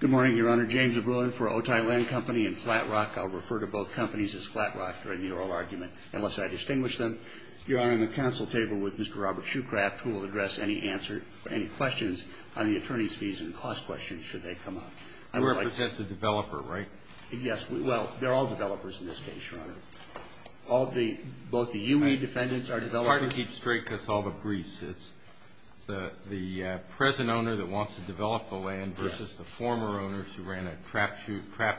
Good morning, Your Honor. James O'Brien for Otay Land Company and Flat Rock. I'll refer to both companies as Flat Rock during the oral argument, unless I distinguish them. Your Honor, I'm at the council table with Mr. Robert Shoecraft, who will address any questions on the attorney's fees and cost questions, should they come up. You represent the developer, right? Yes, well, they're all developers in this case, Your Honor. Both the U.E. defendants are developers. It's hard to keep straight because of all the briefs. It's the present owner that wants to develop the land versus the former owners who ran a trap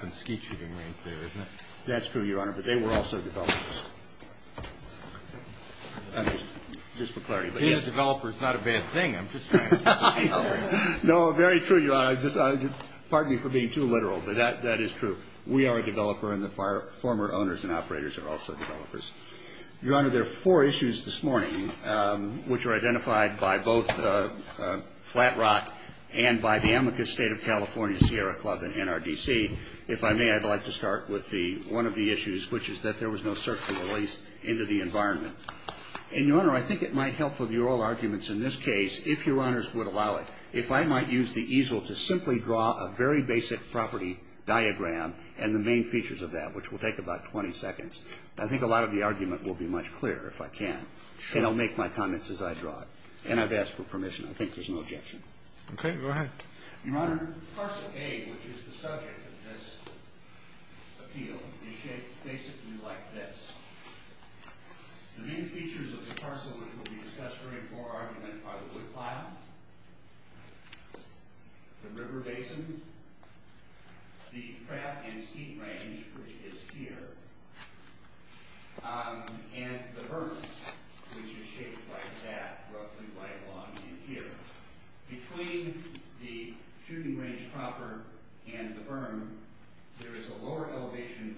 and skeet shooting range there, isn't it? That's true, Your Honor, but they were also developers. I mean, just for clarity, but yes. Being a developer is not a bad thing. I'm just trying to be clear. No, very true, Your Honor. Pardon me for being too literal, but that is true. We are a developer, and the former owners and operators are also developers. Your Honor, there are four issues this morning, which are identified by both Flat Rock and by the Amicus State of California Sierra Club and NRDC. If I may, I'd like to start with one of the issues, which is that there was no search and release into the environment. And, Your Honor, I think it might help for the oral arguments in this case, if Your Honors would allow it, if I might use the easel to simply draw a very basic property diagram and the main features of that, which will take about 20 seconds. I think a lot of the argument will be much clearer if I can, and I'll make my comments as I draw it. And I've asked for permission. I think there's no objection. Okay, go ahead. Your Honor, parcel A, which is the subject of this appeal, is shaped basically like this. The main features of the parcel, which will be discussed during oral argument, are the wood pile, the river basin, the crab and skeet range, which is here, and the berm, which is shaped like that, roughly right along in here. Between the shooting range proper and the berm, there is a lower elevation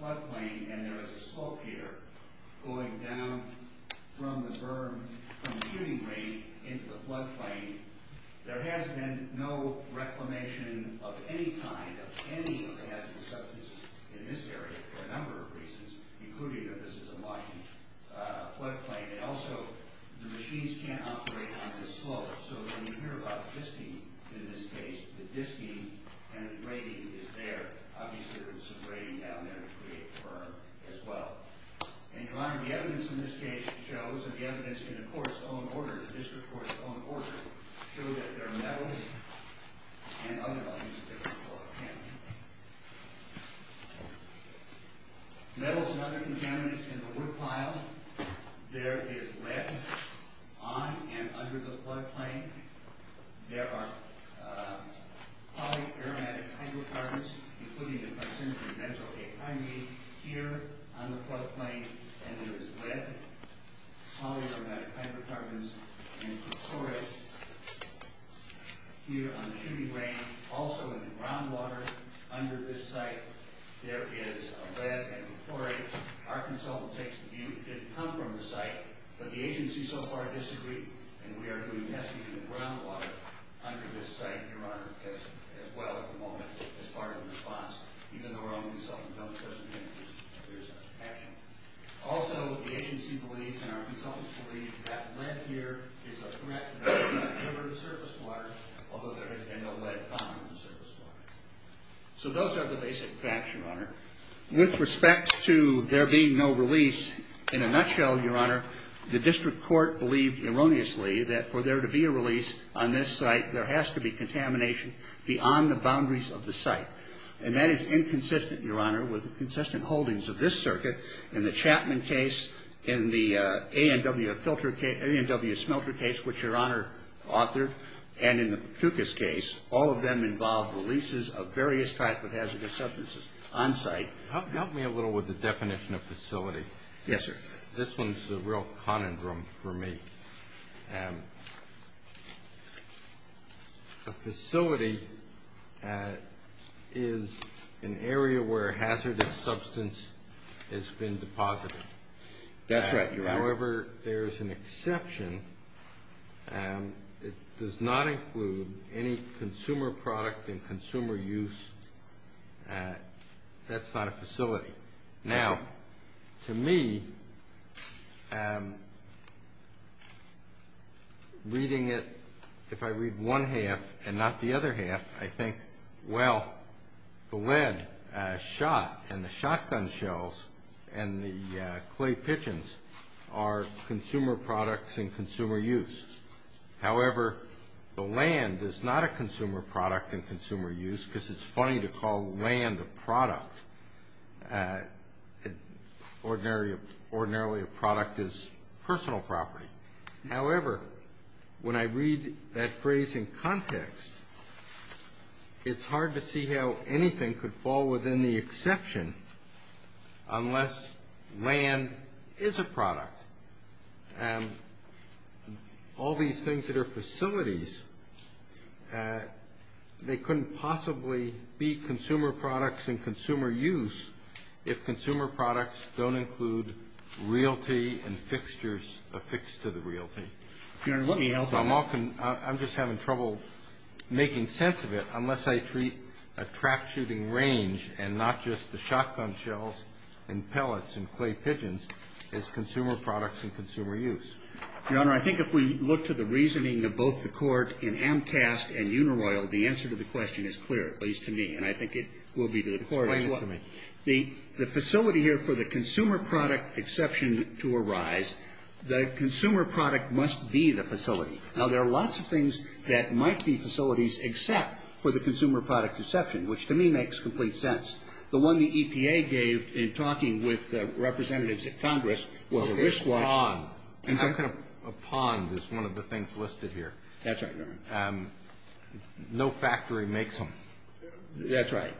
floodplain, and there is a slope here going down from the berm, from the shooting range, into the floodplain. There has been no reclamation of any kind of any of the hazardous substances in this area for a number of reasons, including that this is a Washington floodplain. Also, the machines can't operate on this slope, so when you hear about the disking in this case, the disking and the grading is there. Obviously, there is some grading down there to create the berm as well. And, Your Honor, the evidence in this case shows, and the evidence in the court's own order, the district court's own order, show that there are metals and other ones. Metals and other contaminants in the wood pile, there is lead on and under the floodplain. There are polyaromatic hydrocarbons, including the glycine and benzoyl-A-thymine, here on the floodplain, and there is lead, polyaromatic hydrocarbons, and perchlorate here on the shooting range. Also, in the groundwater under this site, there is lead and perchlorate. Our consultant takes the view that it didn't come from the site, but the agency so far disagreed, and we are doing testing in the groundwater under this site, Your Honor, as well at the moment, as part of the response. Even though we're only consulting with one person, there is action. Also, the agency believes, and our consultants believe, that lead here is a threat to the river and the surface water, although there has been no lead found in the surface water. So those are the basic facts, Your Honor. With respect to there being no release, in a nutshell, Your Honor, the district court believed erroneously that for there to be a release on this site, there has to be contamination beyond the boundaries of the site. And that is inconsistent, Your Honor, with the consistent holdings of this circuit. In the Chapman case, in the A&W filter case, A&W smelter case, which Your Honor authored, and in the Pucas case, all of them involved releases of various types of hazardous substances on site. Help me a little with the definition of facility. Yes, sir. This one's a real conundrum for me. A facility is an area where hazardous substance has been deposited. That's right, Your Honor. However, there is an exception. It does not include any consumer product and consumer use. That's not a facility. Now, to me, reading it, if I read one half and not the other half, I think, well, the lead shot and the shotgun shells and the clay pigeons are consumer products and consumer use. However, the land is not a consumer product and consumer use because it's funny to call land a product. Ordinarily, a product is personal property. However, when I read that phrase in context, it's hard to see how anything could fall within the exception unless land is a product. And all these things that are facilities, they couldn't possibly be consumer products and consumer use if consumer products don't include realty and fixtures affixed to the realty. Your Honor, let me help you. I'm just having trouble making sense of it unless I treat a trap shooting range and not just the shotgun shells and pellets and clay pigeons as consumer products and consumer use. Your Honor, I think if we look to the reasoning of both the Court in Amtas and Uniloyal, the answer to the question is clear, at least to me. And I think it will be to the Court as well. Explain it to me. The facility here for the consumer product exception to arise, the consumer product must be the facility. Now, there are lots of things that might be facilities except for the consumer product exception, which to me makes complete sense. The one the EPA gave in talking with the representatives at Congress was a risk watch. A pond. A pond is one of the things listed here. That's right, Your Honor. No factory makes them. That's right.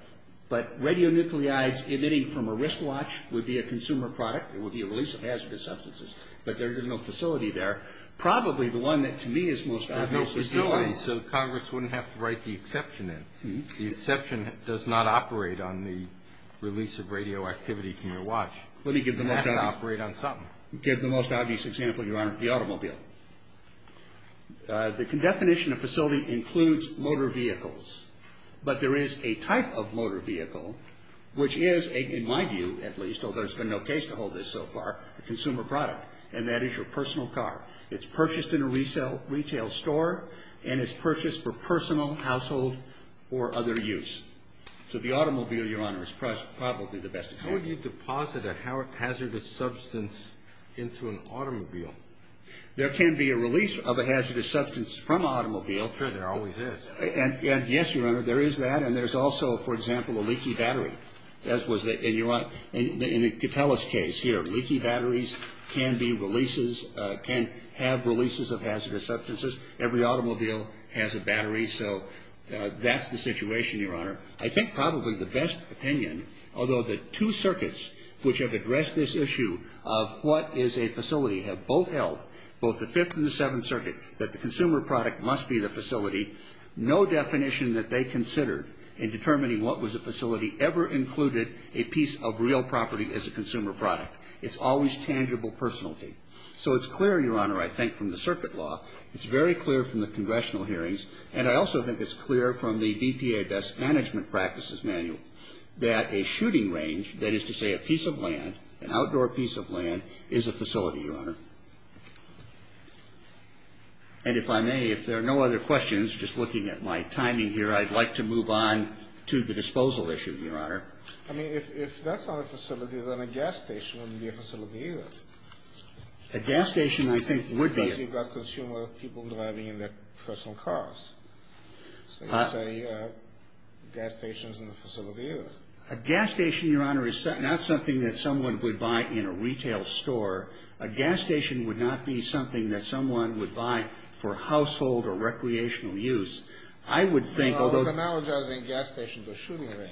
But radionuclides emitting from a risk watch would be a consumer product. It would be a release of hazardous substances. But there is no facility there. Probably the one that to me is most obvious is the watch. So Congress wouldn't have to write the exception in. The exception does not operate on the release of radioactivity from your watch. It has to operate on something. Let me give the most obvious example, Your Honor, the automobile. The definition of facility includes motor vehicles. But there is a type of motor vehicle, which is, in my view at least, although there's been no case to hold this so far, a consumer product. And that is your personal car. It's purchased in a retail store and is purchased for personal, household, or other use. So the automobile, Your Honor, is probably the best example. How would you deposit a hazardous substance into an automobile? There can be a release of a hazardous substance from an automobile. Sure, there always is. And, yes, Your Honor, there is that. And there's also, for example, a leaky battery. As was the ‑‑ and you want ‑‑ in the Gatellis case here, leaky batteries can be releases, can have releases of hazardous substances. Every automobile has a battery. So that's the situation, Your Honor. I think probably the best opinion, although the two circuits which have addressed this issue of what is a facility have both held, both the Fifth and the Seventh Circuit, that the consumer product must be the facility, no definition that they considered in determining what was a facility ever included a piece of real property as a consumer product. It's always tangible personality. So it's clear, Your Honor, I think, from the circuit law. It's very clear from the congressional hearings. And I also think it's clear from the BPA Best Management Practices Manual that a shooting range, that is to say a piece of land, an outdoor piece of land, is a facility, Your Honor. And if I may, if there are no other questions, just looking at my timing here, I'd like to move on to the disposal issue, Your Honor. I mean, if that's not a facility, then a gas station wouldn't be a facility either. A gas station, I think, would be. Because you've got consumer people driving in their personal cars. So you say a gas station is not a facility either. A gas station, Your Honor, is not something that someone would buy in a retail store. A gas station would not be something that someone would buy for household or recreational use. I would think, although. No, it's analogizing a gas station to a shooting range.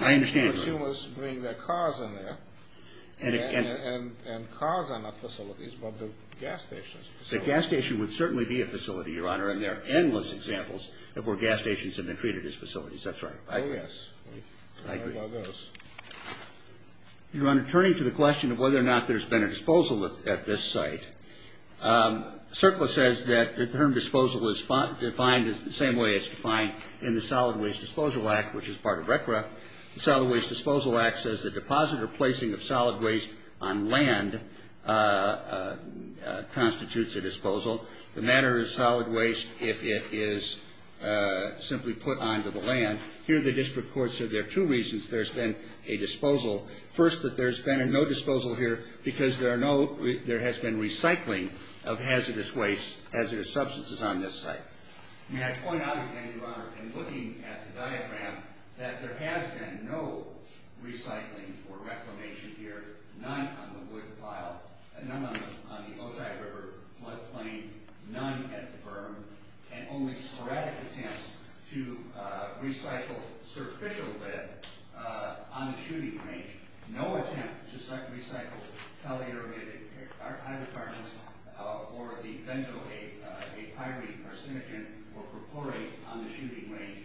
I understand, Your Honor. Consumers bring their cars in there, and cars are not facilities, but the gas station is a facility. The gas station would certainly be a facility, Your Honor, and there are endless examples of where gas stations have been treated as facilities. That's right. Oh, yes. I agree. Sorry about those. Your Honor, turning to the question of whether or not there's been a disposal at this site, CERCLA says that the term disposal is defined the same way it's defined in the Solid Waste Disposal Act, which is part of RCRA. The Solid Waste Disposal Act says the deposit or placing of solid waste on land constitutes a disposal. The matter is solid waste if it is simply put onto the land. Here the district court said there are two reasons there's been a disposal. First, that there's been no disposal here because there has been recycling of hazardous waste, hazardous substances on this site. May I point out again, Your Honor, in looking at the diagram, that there has been no recycling or reclamation here, none on the wood pile, none on the Ojai River floodplain, none at the berm, and only sporadic attempts to recycle surficial lead on the shooting range. No attempt to recycle tally aerated hydrocarbons or the benzoate, a pyrene carcinogen, or propyrate on the shooting range.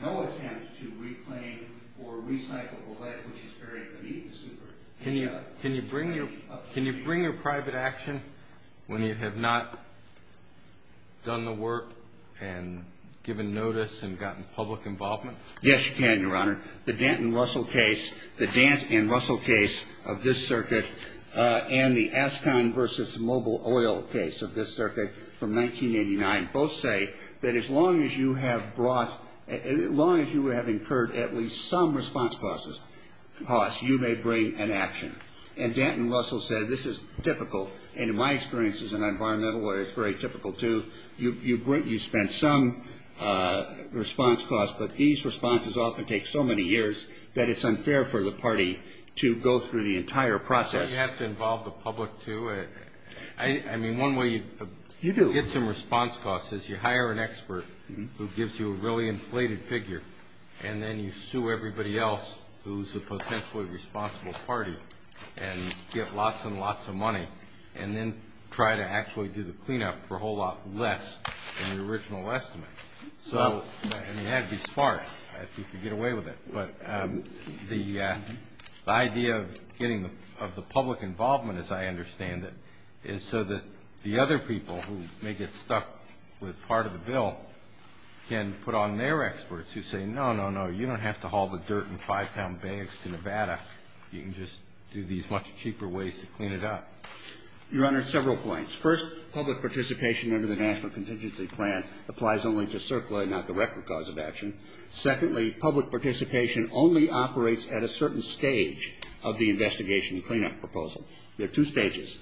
No attempt to reclaim or recycle the lead which is buried beneath the super. Can you bring your private action when you have not done the work and given notice and gotten public involvement? Yes, you can, Your Honor. The Dent and Russell case, the Dent and Russell case of this circuit, and the Ascon v. Mobile Oil case of this circuit from 1989 both say that as long as you have brought, as long as you have incurred at least some response costs, you may bring an action. And Dent and Russell said this is typical, and in my experience as an environmental lawyer, it's very typical too. You spent some response costs, but these responses often take so many years that it's unfair for the party to go through the entire process. But you have to involve the public too. I mean, one way you get some response costs is you hire an expert who gives you a really inflated figure, and then you sue everybody else who's a potentially responsible party and get lots and lots of money and then try to actually do the cleanup for a whole lot less than the original estimate. So, I mean, you have to be smart if you can get away with it. But the idea of getting the public involvement as I understand it is so that the other people who may get stuck with part of the bill can put on their experts who say, no, no, no, you don't have to haul the dirt and five-pound bags to Nevada. You can just do these much cheaper ways to clean it up. You, Your Honor, several points. First, public participation under the National Contingency Plan applies only to CERCLA, not the record cause of action. Secondly, public participation only operates at a certain stage of the investigation and cleanup proposal. There are two stages.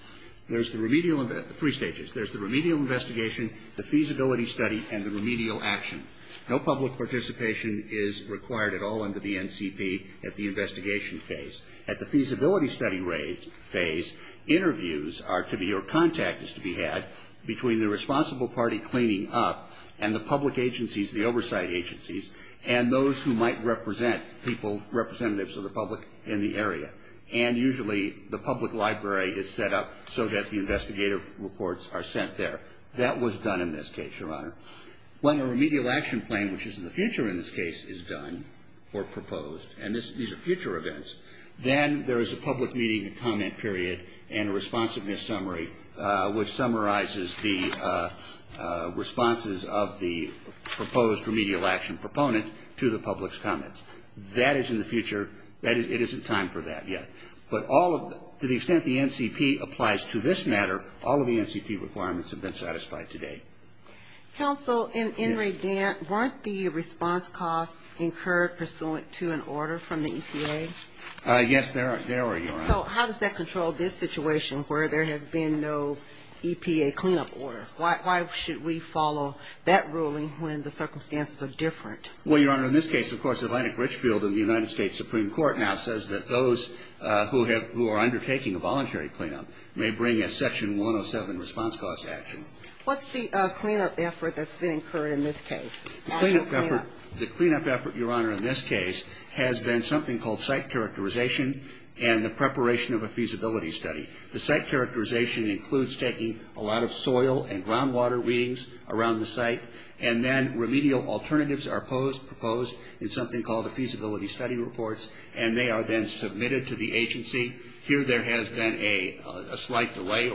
There's the remedial three stages. There's the remedial investigation, the feasibility study, and the remedial action. No public participation is required at all under the NCP at the investigation phase. At the feasibility study phase, interviews are to be or contact is to be had between the responsible party cleaning up and the public agencies, the oversight agencies, and those who might represent people, representatives of the public in the area. And usually the public library is set up so that the investigative reports are sent there. That was done in this case, Your Honor. When a remedial action plan, which is in the future in this case, is done or proposed, and these are future events, then there is a public meeting and comment period and a responsiveness summary, which summarizes the responses of the proposed remedial action proponent to the public's comments. That is in the future. It isn't time for that yet. But to the extent the NCP applies to this matter, all of the NCP requirements have been satisfied to date. Counsel, in Enrydant, weren't the response costs incurred pursuant to an order from the EPA? Yes, there were, Your Honor. So how does that control this situation where there has been no EPA cleanup order? Why should we follow that ruling when the circumstances are different? Well, Your Honor, in this case, of course, Atlantic Richfield and the United States Supreme Court now says that those who are undertaking a voluntary cleanup may bring a Section 107 response cost action. What's the cleanup effort that's been incurred in this case? The cleanup effort, Your Honor, in this case has been something called site characterization and the preparation of a feasibility study. The site characterization includes taking a lot of soil and groundwater readings around the site, and then remedial alternatives are proposed in something called the feasibility study reports, and they are then submitted to the agency. Here there has been a slight delay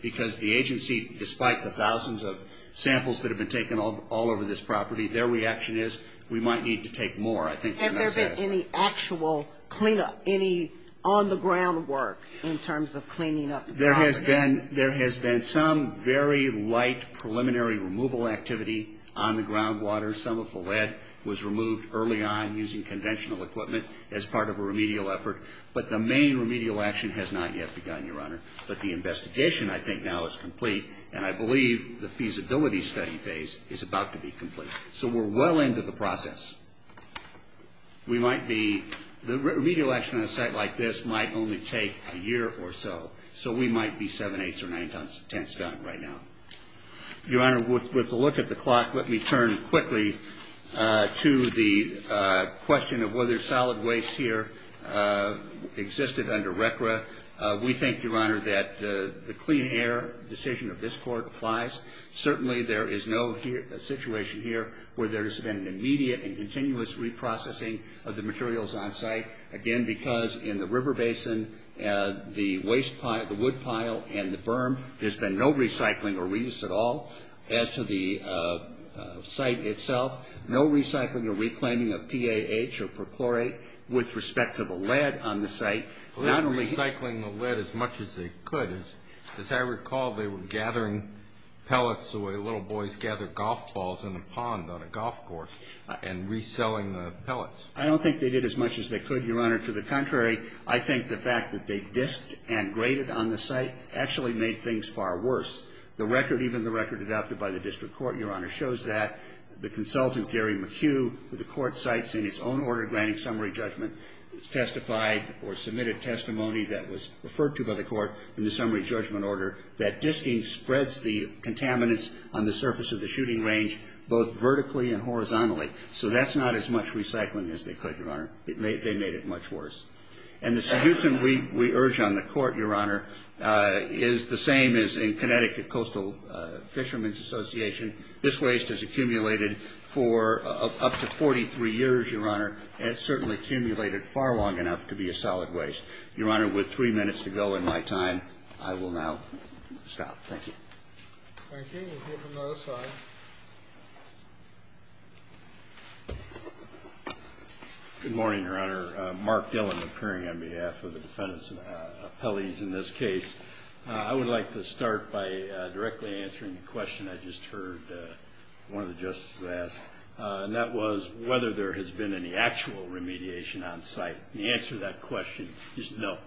because the agency, despite the thousands of samples that have been taken all over this property, their reaction is we might need to take more. Has there been any actual cleanup, any on-the-ground work in terms of cleaning up the property? There has been some very light preliminary removal activity on the groundwater. Some of the lead was removed early on using conventional equipment as part of a remedial effort, but the main remedial action has not yet begun, Your Honor. But the investigation I think now is complete, and I believe the feasibility study phase is about to be complete. So we're well into the process. We might be the remedial action on a site like this might only take a year or so, so we might be seven-eighths or nine-tenths done right now. Your Honor, with a look at the clock, let me turn quickly to the question of whether solid waste here existed under RCRA. We think, Your Honor, that the clean air decision of this Court applies. Certainly there is no situation here where there has been an immediate and continuous reprocessing of the materials on site, again, because in the river basin, the waste pile, the wood pile and the berm, there's been no recycling or reuse at all. As to the site itself, no recycling or reclaiming of PAH or perchlorate with respect to the lead on the site. Not only recycling the lead as much as they could. As I recall, they were gathering pellets the way little boys gather golf balls in a pond on a golf course and reselling the pellets. I don't think they did as much as they could, Your Honor. To the contrary, I think the fact that they disked and graded on the site actually made things far worse. The record, even the record adopted by the District Court, Your Honor, shows that. The consultant, Gary McHugh, who the Court cites in its own order granting summary judgment, testified or submitted testimony that was referred to by the Court in the summary judgment order that disking spreads the contaminants on the surface of the shooting range both vertically and horizontally. So that's not as much recycling as they could, Your Honor. They made it much worse. And the seducing we urge on the Court, Your Honor, is the same as in Connecticut Coastal Fishermen's Association. This waste has accumulated for up to 43 years, Your Honor, and it's certainly accumulated far long enough to be a solid waste. Your Honor, with three minutes to go in my time, I will now stop. Thank you. Thank you. We'll hear from the other side. Thank you. Good morning, Your Honor. Mark Dillon appearing on behalf of the defendants and appellees in this case. I would like to start by directly answering the question I just heard one of the justices ask, and that was whether there has been any actual remediation on site. And the answer to that question is no.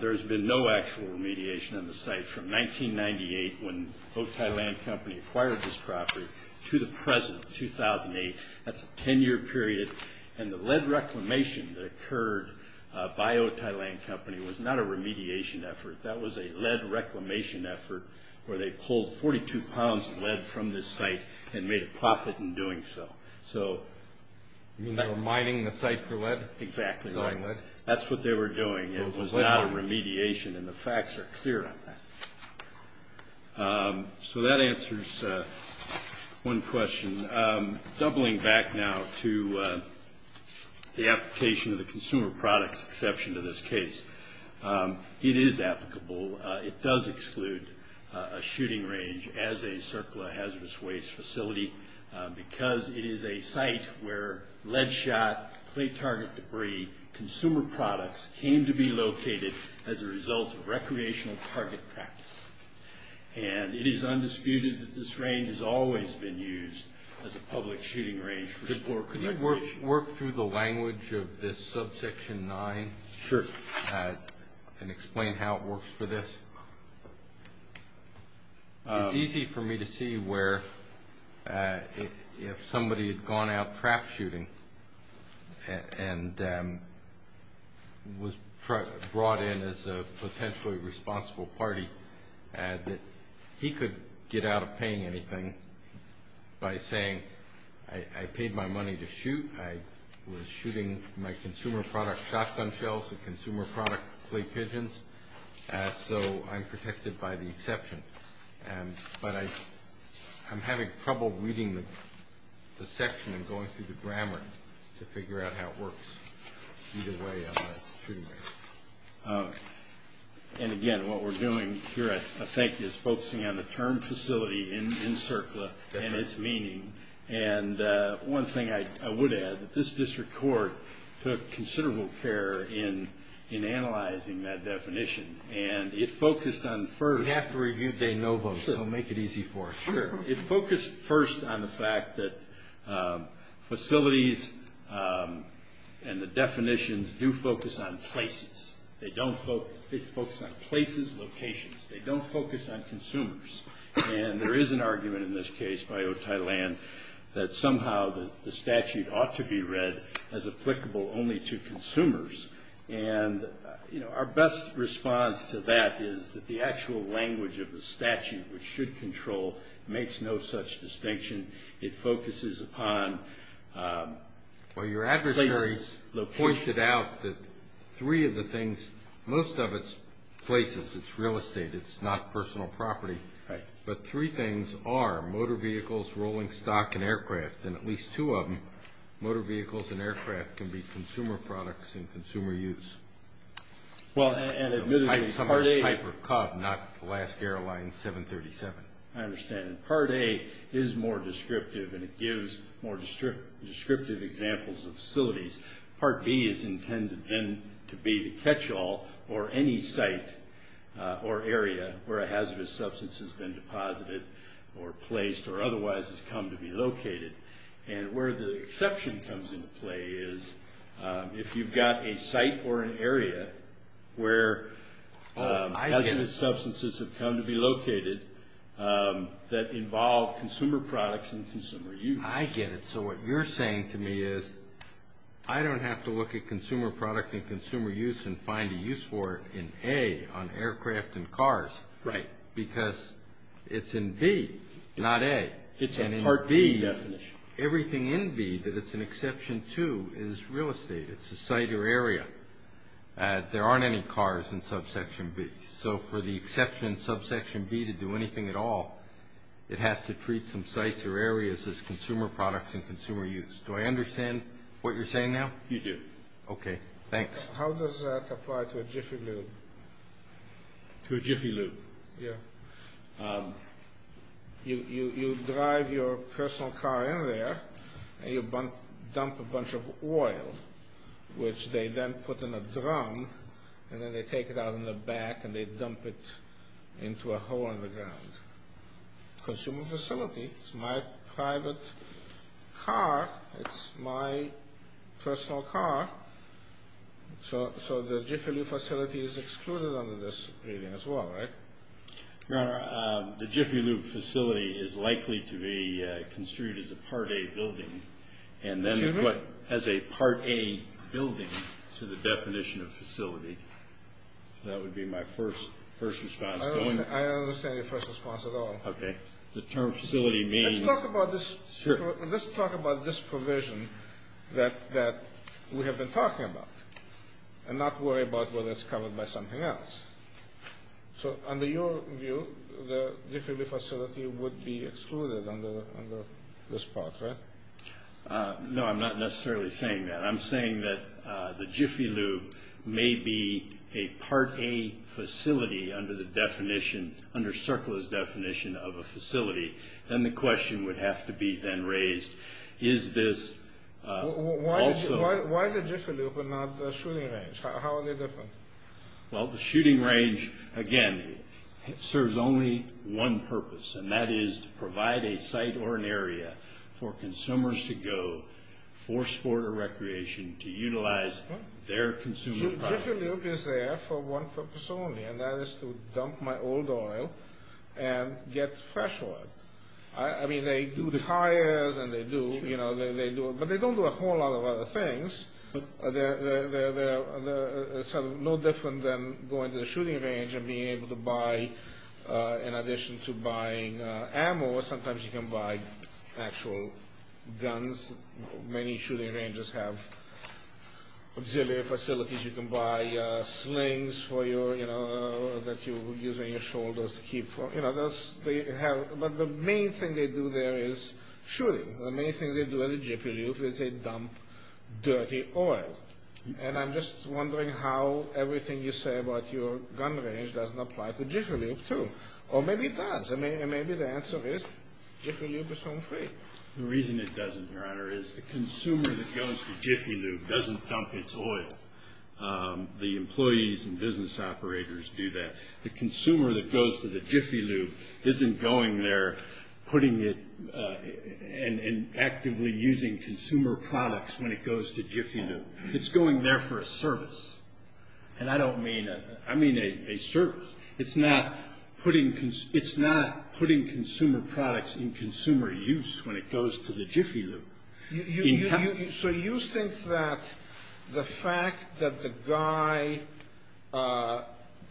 There has been no actual remediation on the site from 1998 when Otay Land Company acquired this property to the present, 2008. That's a 10-year period. And the lead reclamation that occurred by Otay Land Company was not a remediation effort. That was a lead reclamation effort where they pulled 42 pounds of lead from this site and made a profit in doing so. You mean they were mining the site for lead? Exactly. Selling lead? That's what they were doing. It was not a remediation, and the facts are clear on that. So that answers one question. Doubling back now to the application of the consumer products exception to this case, it is applicable. It does exclude a shooting range as a circular hazardous waste facility because it is a site where lead shot, clay target debris, consumer products came to be located as a result of recreational target practice. And it is undisputed that this range has always been used as a public shooting range for sport and recreation. Could you work through the language of this subsection 9 and explain how it works for this? It's easy for me to see where if somebody had gone out trap shooting and was brought in as a potentially responsible party, that he could get out of paying anything by saying, I paid my money to shoot. I was shooting my consumer product shotgun shells and consumer product clay pigeons. So I'm protected by the exception. But I'm having trouble reading the section and going through the grammar to figure out how it works either way on that shooting range. And again, what we're doing here, I think, is focusing on the term facility in CERCLA and its meaning. And one thing I would add, this district court took considerable care in analyzing that definition. And it focused on first. We have to review de novo, so make it easy for us. Sure. It focused first on the fact that facilities and the definitions do focus on places. They focus on places, locations. They don't focus on consumers. And there is an argument in this case by Otay Land that somehow the statute ought to be read as applicable only to consumers. And, you know, our best response to that is that the actual language of the statute, which should control, makes no such distinction. It focuses upon places. Well, your adversaries pointed out that three of the things, most of it's places. It's real estate. It's not personal property. Right. But three things are motor vehicles, rolling stock, and aircraft. And at least two of them, motor vehicles and aircraft, can be consumer products and consumer use. Well, and admittedly, Part A. Some are type of cod, not Alaska Airlines 737. I understand. And Part A is more descriptive, and it gives more descriptive examples of facilities. Part B is intended then to be the catch-all or any site or area where a hazardous substance has been deposited or placed or otherwise has come to be located. And where the exception comes into play is if you've got a site or an area where hazardous substances have come to be located that involve consumer products and consumer use. I get it. So what you're saying to me is I don't have to look at consumer product and consumer use and find a use for it in A, on aircraft and cars. Right. Because it's in B, not A. It's a Part B definition. Everything in B that it's an exception to is real estate. It's a site or area. There aren't any cars in Subsection B. So for the exception in Subsection B to do anything at all, it has to treat some sites or areas as consumer products and consumer use. Do I understand what you're saying now? You do. Okay, thanks. How does that apply to a Jiffy Lube? To a Jiffy Lube? Yeah. You drive your personal car in there, and you dump a bunch of oil, which they then put in a drum, and then they take it out in the back, and they dump it into a hole in the ground. Consumer facility. It's my private car. It's my personal car. So the Jiffy Lube facility is excluded under this reading as well, right? Your Honor, the Jiffy Lube facility is likely to be construed as a Part A building, and then put as a Part A building to the definition of facility. That would be my first response. I don't understand your first response at all. Okay. The term facility means. Let's talk about this provision that we have been talking about and not worry about whether it's covered by something else. So under your view, the Jiffy Lube facility would be excluded under this part, right? No, I'm not necessarily saying that. I'm saying that the Jiffy Lube may be a Part A facility under the definition, under Circular's definition of a facility. Then the question would have to be then raised, is this also... Why is the Jiffy Lube not a shooting range? How are they different? Well, the shooting range, again, serves only one purpose, and that is to provide a site or an area for consumers to go for sport or recreation to utilize their consumer products. The Jiffy Lube is there for one purpose only, and that is to dump my old oil and get fresh oil. I mean, they do the tires, and they do... But they don't do a whole lot of other things. They're no different than going to the shooting range and being able to buy, in addition to buying ammo, sometimes you can buy actual guns. Many shooting ranges have auxiliary facilities. You can buy slings for your, you know, that you use on your shoulders to keep... You know, they have... But the main thing they do there is shooting. The main thing they do at a Jiffy Lube is they dump dirty oil. And I'm just wondering how everything you say about your gun range doesn't apply to Jiffy Lube, too. Or maybe it does, and maybe the answer is Jiffy Lube is home free. The reason it doesn't, Your Honor, is the consumer that goes to Jiffy Lube doesn't dump its oil. The employees and business operators do that. The consumer that goes to the Jiffy Lube isn't going there putting it and actively using consumer products when it goes to Jiffy Lube. It's going there for a service. And I don't mean a... I mean a service. It's not putting... It's not putting consumer products in consumer use when it goes to the Jiffy Lube. So you think that the fact that the guy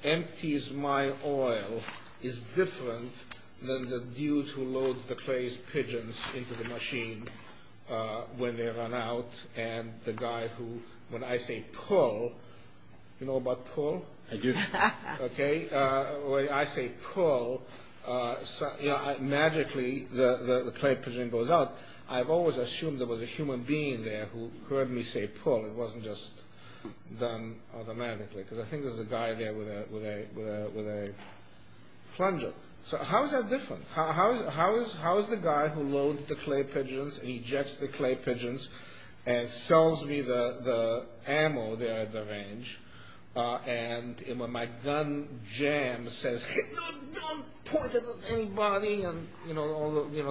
empties my oil is different than the dude who loads the clay's pigeons into the machine when they run out, and the guy who, when I say pull... You know about pull? I do. Okay. When I say pull, magically the clay pigeon goes out. I've always assumed there was a human being there who heard me say pull. It wasn't just done automatically, because I think there's a guy there with a plunger. So how is that different? How is the guy who loads the clay pigeons and ejects the clay pigeons and sells me the ammo there at the range, and when my gun jams, says hit the gun, don't point it at anybody, and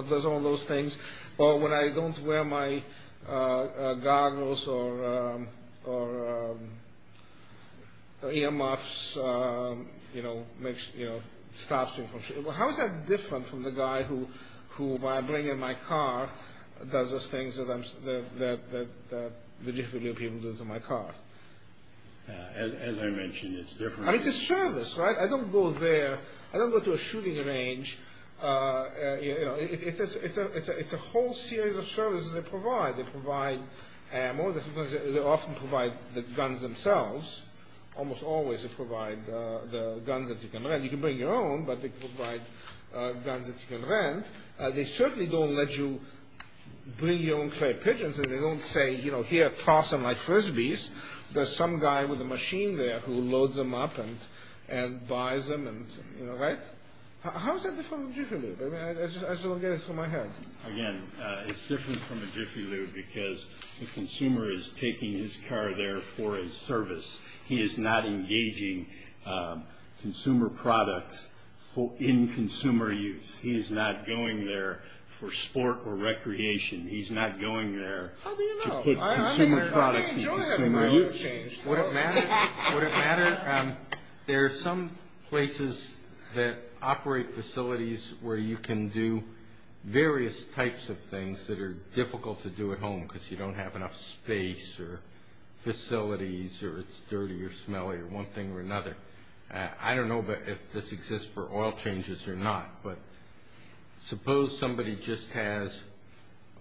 does all those things, or when I don't wear my goggles or earmuffs, stops me from shooting. As I mentioned, it's different. It's a service, right? I don't go there. I don't go to a shooting range. It's a whole series of services they provide. They provide ammo. They often provide the guns themselves. Almost always they provide the guns that you can rent. You can bring your own, but they provide guns that you can rent. They certainly don't let you bring your own clay pigeons, and they don't say here toss them like frisbees. There's some guy with a machine there who loads them up and buys them, right? How is that different from a Jiffy Lube? I just want to get this from my head. Again, it's different from a Jiffy Lube because the consumer is taking his car there for a service. He is not engaging consumer products in consumer use. He is not going there for sport or recreation. He's not going there to get consumer products in consumer use. Would it matter? Would it matter? There are some places that operate facilities where you can do various types of things that are difficult to do at home because you don't have enough space or facilities or it's dirty or smelly or one thing or another. I don't know if this exists for oil changes or not, but suppose somebody just has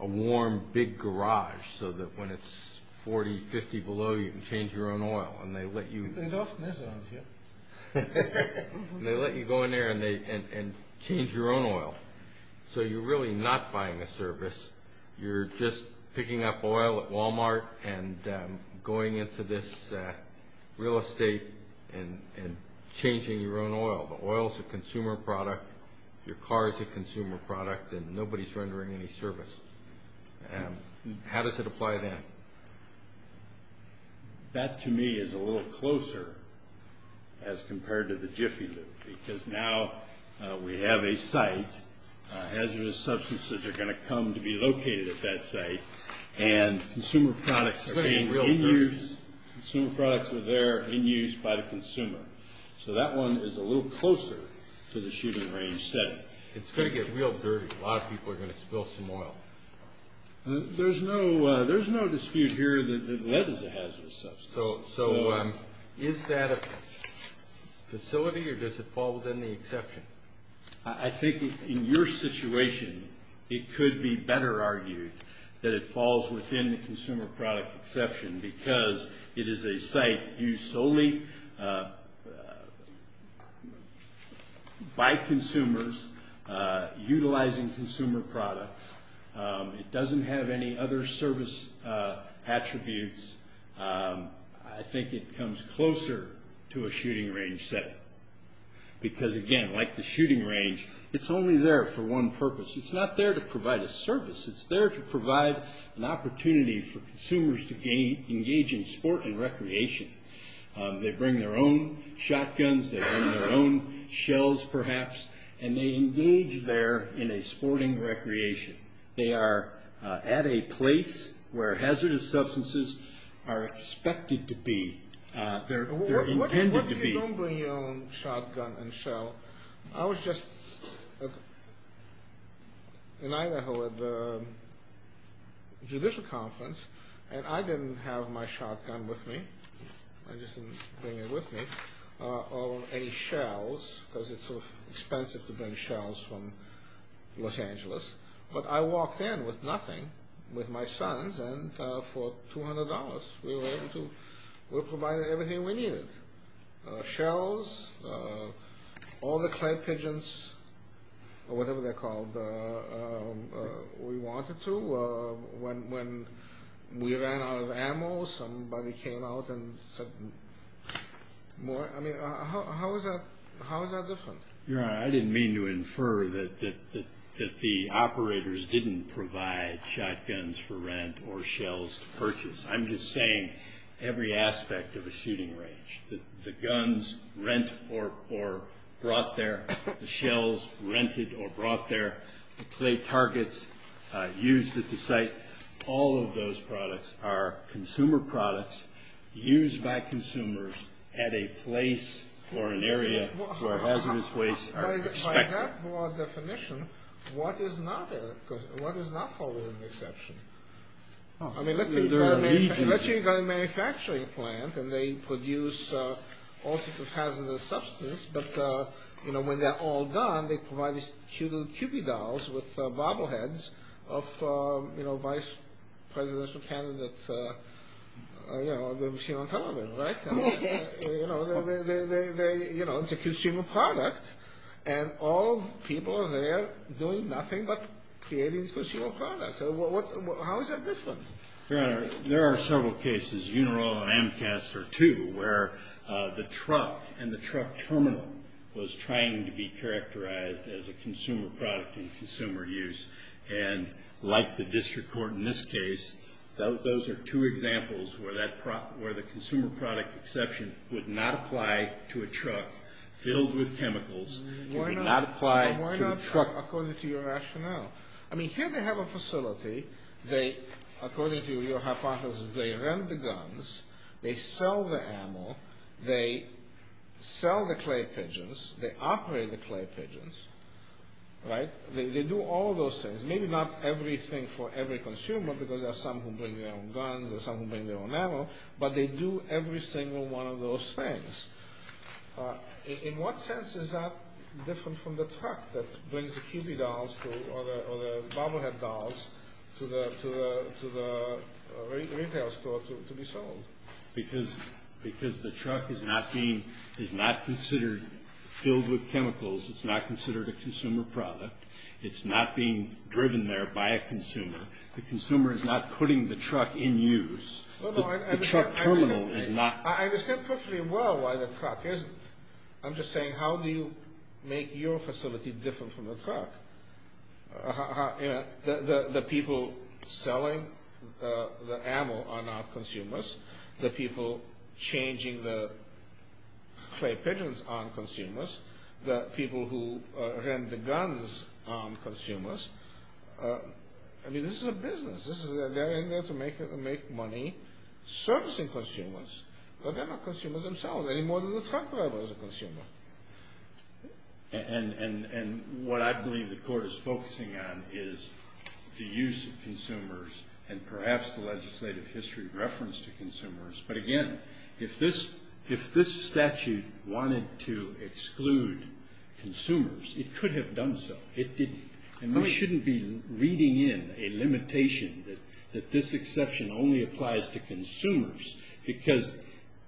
a warm big garage so that when it's 40, 50 below, you can change your own oil, and they let you go in there and change your own oil. So you're really not buying a service. You're just picking up oil at Walmart and going into this real estate and changing your own oil. The oil is a consumer product. Your car is a consumer product, and nobody is rendering any service. How does it apply then? That to me is a little closer as compared to the Jiffy Lube because now we have a site. Hazardous substances are going to come to be located at that site, and consumer products are being in use. Consumer products are there in use by the consumer. So that one is a little closer to the shooting range setting. It's going to get real dirty. A lot of people are going to spill some oil. There's no dispute here that lead is a hazardous substance. So is that a facility or does it fall within the exception? I think in your situation, it could be better argued that it falls within the consumer product exception because it is a site used solely by consumers utilizing consumer products. It doesn't have any other service attributes. I think it comes closer to a shooting range setting because, again, like the shooting range, it's only there for one purpose. It's not there to provide a service. It's there to provide an opportunity for consumers to engage in sport and recreation. They bring their own shotguns. They bring their own shells perhaps, and they engage there in a sporting recreation. They are at a place where hazardous substances are expected to be. They're intended to be. What do you mean you don't bring your own shotgun and shell? Well, I was just in Idaho at the judicial conference, and I didn't have my shotgun with me. I just didn't bring it with me or any shells because it's sort of expensive to bring shells from Los Angeles. But I walked in with nothing, with my sons, and for $200, we were able to provide everything we needed. Shells, all the clay pigeons or whatever they're called, we wanted to. When we ran out of ammo, somebody came out and said more. I mean, how is that different? Your Honor, I didn't mean to infer that the operators didn't provide shotguns for rent or shells to purchase. I'm just saying every aspect of a shooting range, the guns rent or brought there, the shells rented or brought there, the clay targets used at the site, all of those products are consumer products used by consumers at a place or an area where hazardous wastes are expected. By that broad definition, what is not following the exception? I mean, let's say you've got a manufacturing plant and they produce all sorts of hazardous substances, but when they're all done, they provide these cute little QB dolls with bobble heads of vice presidential candidates that we've seen on television, right? You know, it's a consumer product, and all the people are there doing nothing but creating these consumer products. How is that different? Your Honor, there are several cases, Unirol and AMCAS are two, where the truck and the truck terminal was trying to be characterized as a consumer product and consumer use. And like the district court in this case, those are two examples where the consumer product exception would not apply to a truck filled with chemicals. It would not apply to the truck. But why not, according to your rationale? I mean, here they have a facility, they, according to your hypothesis, they rent the guns, they sell the ammo, they sell the clay pigeons, they operate the clay pigeons, right? They do all those things. Maybe not everything for every consumer, because there are some who bring their own guns, there are some who bring their own ammo, but they do every single one of those things. In what sense is that different from the truck that brings the Kewpie dolls or the Bobblehead dolls to the retail store to be sold? Because the truck is not considered filled with chemicals, it's not considered a consumer product, it's not being driven there by a consumer. The consumer is not putting the truck in use. The truck terminal is not... I understand perfectly well why the truck isn't. I'm just saying, how do you make your facility different from the truck? The people selling the ammo are not consumers. The people changing the clay pigeons aren't consumers. The people who rent the guns aren't consumers. I mean, this is a business. They're in there to make money servicing consumers, but they're not consumers themselves any more than the truck driver is a consumer. And what I believe the Court is focusing on is the use of consumers and perhaps the legislative history reference to consumers. But again, if this statute wanted to exclude consumers, it could have done so. It didn't. And we shouldn't be reading in a limitation that this exception only applies to consumers because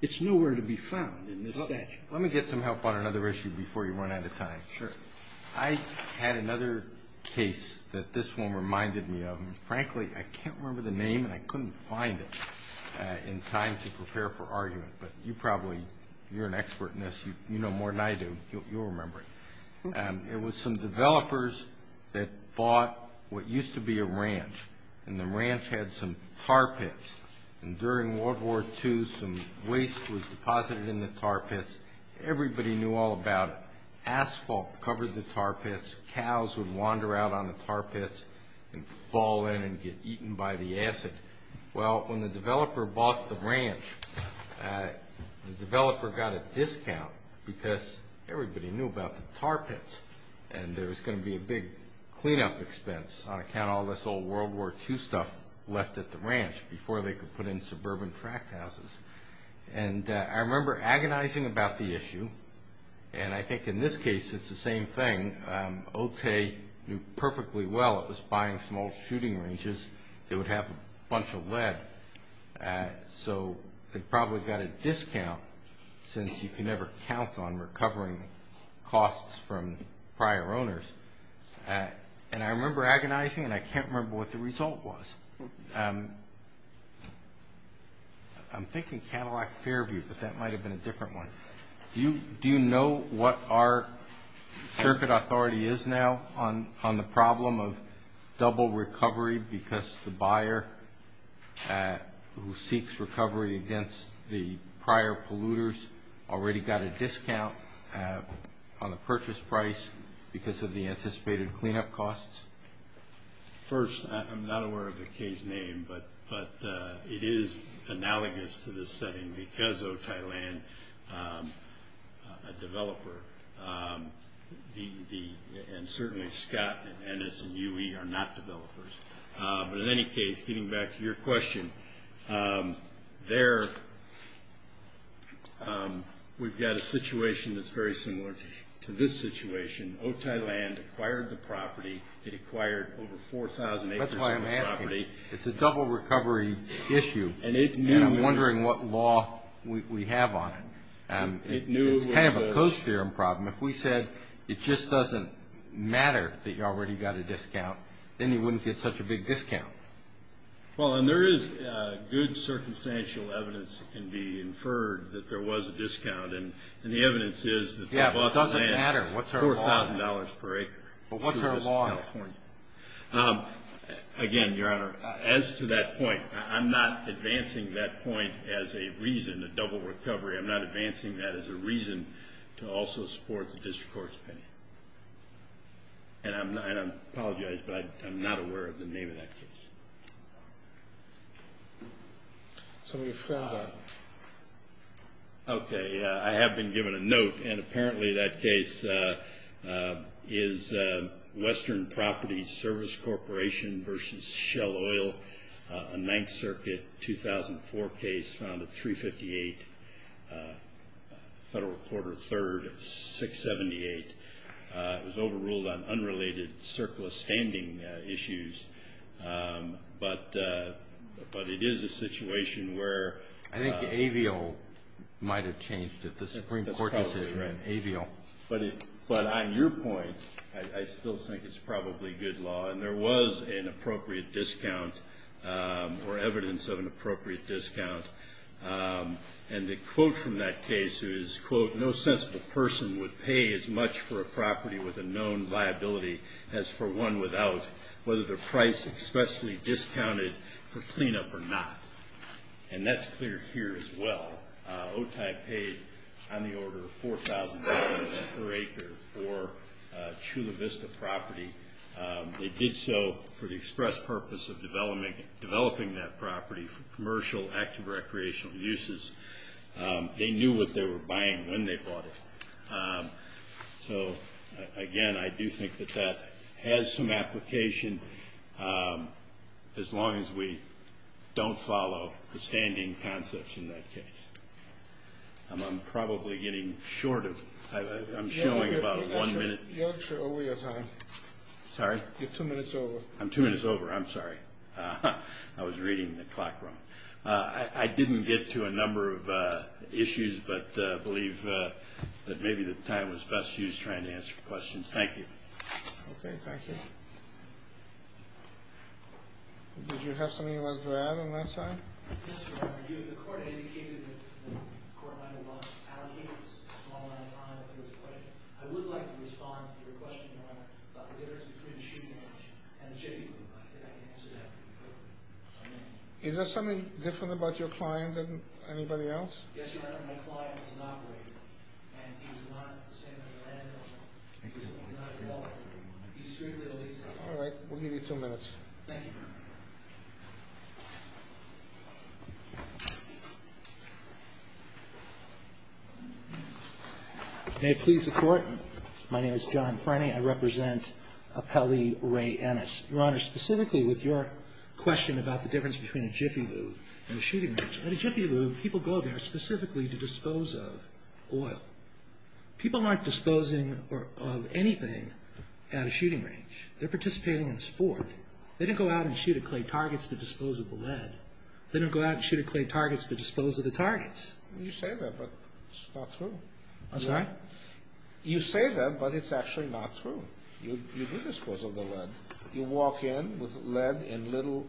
it's nowhere to be found in this statute. Let me get some help on another issue before you run out of time. Sure. I had another case that this one reminded me of. And frankly, I can't remember the name, and I couldn't find it in time to prepare for argument. But you probably, you're an expert in this. You know more than I do. You'll remember it. It was some developers that bought what used to be a ranch. And the ranch had some tar pits. And during World War II, some waste was deposited in the tar pits. Everybody knew all about it. Asphalt covered the tar pits. Cows would wander out on the tar pits and fall in and get eaten by the acid. Well, when the developer bought the ranch, the developer got a discount because everybody knew about the tar pits. And there was going to be a big cleanup expense on account of all this old World War II stuff left at the ranch before they could put in suburban tract houses. And I remember agonizing about the issue. And I think in this case, it's the same thing. OTA knew perfectly well it was buying small shooting ranges. It would have a bunch of lead. So they probably got a discount since you can never count on recovering costs from prior owners. And I remember agonizing, and I can't remember what the result was. I'm thinking Cadillac Fairview, but that might have been a different one. Do you know what our circuit authority is now on the problem of double recovery because the buyer who seeks recovery against the prior polluters already got a discount on the purchase price because of the anticipated cleanup costs? First, I'm not aware of the case name, but it is analogous to this setting because OTAI Land, a developer, and certainly Scott and NS and UE are not developers. But in any case, getting back to your question, there we've got a situation that's very similar to this situation. OTAI Land acquired the property. It acquired over 4,000 acres of property. That's why I'm asking. It's a double recovery issue, and I'm wondering what law we have on it. It's kind of a Coase theorem problem. If we said it just doesn't matter that you already got a discount, then you wouldn't get such a big discount. Well, and there is good circumstantial evidence that can be inferred that there was a discount, and the evidence is that OTAI Land is $4,000 per acre. But what's our law? Again, Your Honor, as to that point, I'm not advancing that point as a reason, a double recovery. I'm not advancing that as a reason to also support the district court's opinion. And I apologize, but I'm not aware of the name of that case. So we've found that. Okay. I have been given a note, and apparently that case is Western Properties Service Corporation versus Shell Oil, a Ninth Circuit 2004 case found at 358 Federal Court of Third at 678. It was overruled on unrelated circular standing issues, but it is a situation where ---- I think AVIL might have changed it, the Supreme Court decision. That's probably right. AVIL. But on your point, I still think it's probably good law, and there was an appropriate discount or evidence of an appropriate discount. And the quote from that case is, quote, No sensible person would pay as much for a property with a known liability as for one without, whether the price expressly discounted for cleanup or not. And that's clear here as well. OTAI paid on the order of $4,000 per acre for Chula Vista property. They did so for the express purpose of developing that property for commercial active recreational uses. They knew what they were buying when they bought it. So, again, I do think that that has some application as long as we don't follow the standing concepts in that case. I'm probably getting short of ---- I'm showing about one minute. You're over your time. Sorry? You're two minutes over. I'm two minutes over. I'm sorry. I was reading the clock wrong. I didn't get to a number of issues, but I believe that maybe the time was best used trying to answer questions. Thank you. Okay. Thank you. Did you have something you wanted to add on that side? Yes, Your Honor. The court indicated that the court might have allocated a small amount of time. I would like to respond to your question, Your Honor, about the difference between shooting and chipping. I think I can answer that. Is there something different about your client than anybody else? Yes, Your Honor. My client is an operator, and he's not the same as a landlord. He's not a developer. He's strictly a leaser. All right. We'll give you two minutes. Thank you. May it please the Court, my name is John Frenney. I represent Appellee Ray Ennis. Your Honor, specifically with your question about the difference between a Jiffy Lube and a shooting range, at a Jiffy Lube, people go there specifically to dispose of oil. People aren't disposing of anything at a shooting range. They're participating in sport. They didn't go out and shoot at clay targets to dispose of the lead. They didn't go out and shoot at clay targets to dispose of the targets. You say that, but it's not true. I'm sorry? You say that, but it's actually not true. You do dispose of the lead. You walk in with lead in little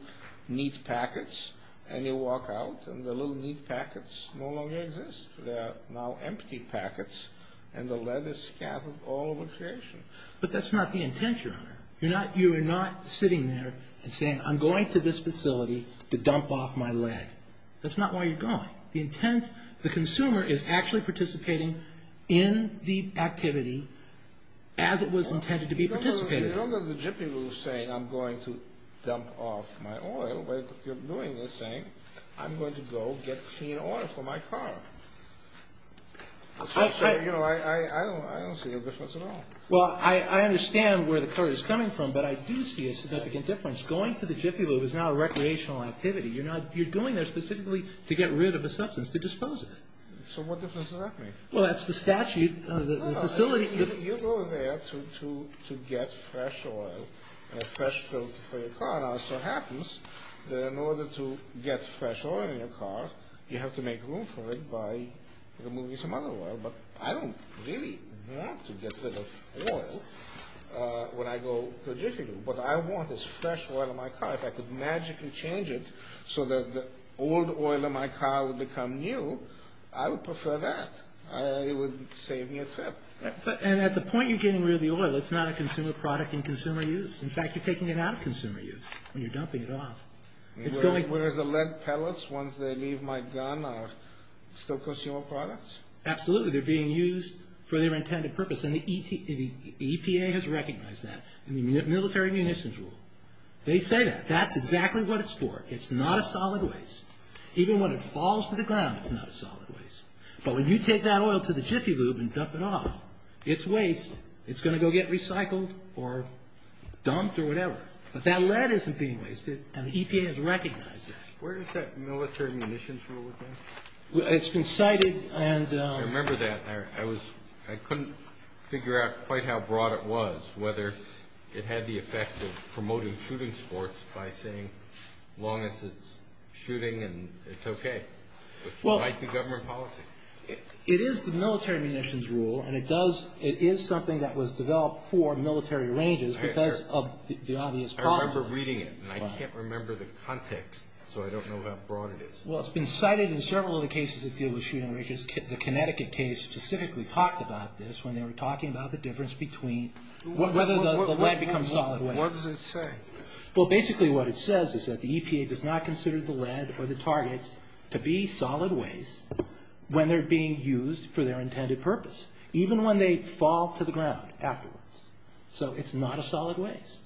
neat packets, and you walk out, and the little neat packets no longer exist. They are now empty packets, and the lead is scattered all over the location. But that's not the intent, Your Honor. You're not sitting there and saying, I'm going to this facility to dump off my lead. That's not where you're going. The intent, the consumer is actually participating in the activity as it was intended to be participated in. You don't go to the Jiffy Lube saying, I'm going to dump off my oil. You're doing this saying, I'm going to go get clean oil for my car. I don't see a difference at all. Well, I understand where the courage is coming from, but I do see a significant difference. Going to the Jiffy Lube is now a recreational activity. You're going there specifically to get rid of a substance, to dispose of it. So what difference does that make? Well, that's the statute of the facility. No, no. You go there to get fresh oil and a fresh filter for your car. Now, it so happens that in order to get fresh oil in your car, you have to make room for it by removing some other oil. But I don't really want to get rid of oil when I go to the Jiffy Lube. What I want is fresh oil in my car. If I could magically change it so that the old oil in my car would become new, I would prefer that. It would save me a trip. And at the point you're getting rid of the oil, it's not a consumer product in consumer use. In fact, you're taking it out of consumer use when you're dumping it off. Whereas the lead pellets, once they leave my gun, are still consumer products? Absolutely. They're being used for their intended purpose. And the EPA has recognized that in the military munitions rule. They say that. That's exactly what it's for. It's not a solid waste. Even when it falls to the ground, it's not a solid waste. But when you take that oil to the Jiffy Lube and dump it off, it's waste. It's going to go get recycled or dumped or whatever. But that lead isn't being wasted, and the EPA has recognized that. Where does that military munitions rule apply? It's been cited and— I remember that. I couldn't figure out quite how broad it was, whether it had the effect of promoting shooting sports by saying long as it's shooting and it's okay, which would like the government policy. It is the military munitions rule, and it is something that was developed for military ranges because of the obvious problem. I remember reading it, and I can't remember the context, so I don't know how broad it is. Well, it's been cited in several of the cases that deal with shooting ranges. The Connecticut case specifically talked about this when they were talking about the difference between— whether the lead becomes solid waste. What does it say? Well, basically what it says is that the EPA does not consider the lead or the targets to be solid waste when they're being used for their intended purpose, even when they fall to the ground afterwards. So it's not a solid waste.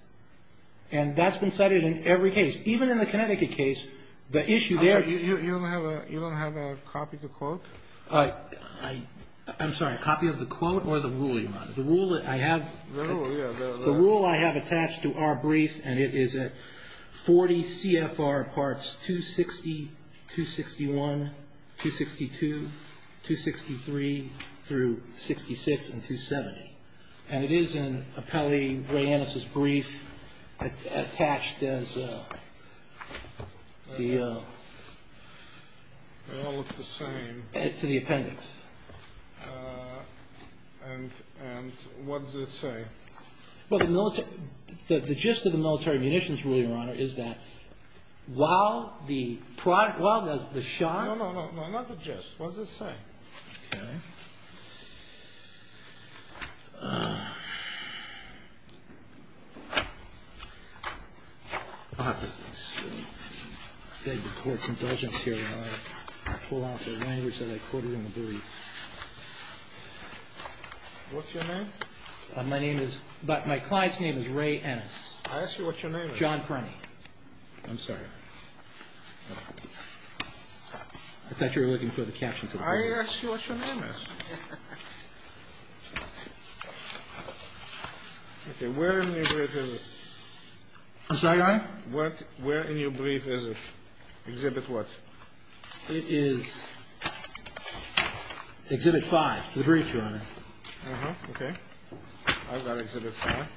And that's been cited in every case. Even in the Connecticut case, the issue there— You don't have a copy of the quote? I'm sorry. A copy of the quote or the rule you're on? The rule that I have— The rule, yeah. The rule I have attached to our brief, and it is at 40 CFR parts 260, 261, 262, 263, through 66 and 270. And it is in Appellee Ray Ennis' brief attached as the— They all look the same. To the appendix. And what does it say? Well, the military—the gist of the military munitions rule, Your Honor, is that while the shot— No, no, no, not the gist. What does it say? Okay. I beg the Court's indulgence here while I pull out the language that I quoted in the brief. What's your name? My name is—my client's name is Ray Ennis. I asked you what your name is. John Crony. I'm sorry. I thought you were looking for the caption to the brief. I asked you what your name is. Okay. Where in your brief is it? I'm sorry, Your Honor? Where in your brief is it? Exhibit what? It is Exhibit 5 to the brief, Your Honor. Uh-huh. Okay. I've got Exhibit 5.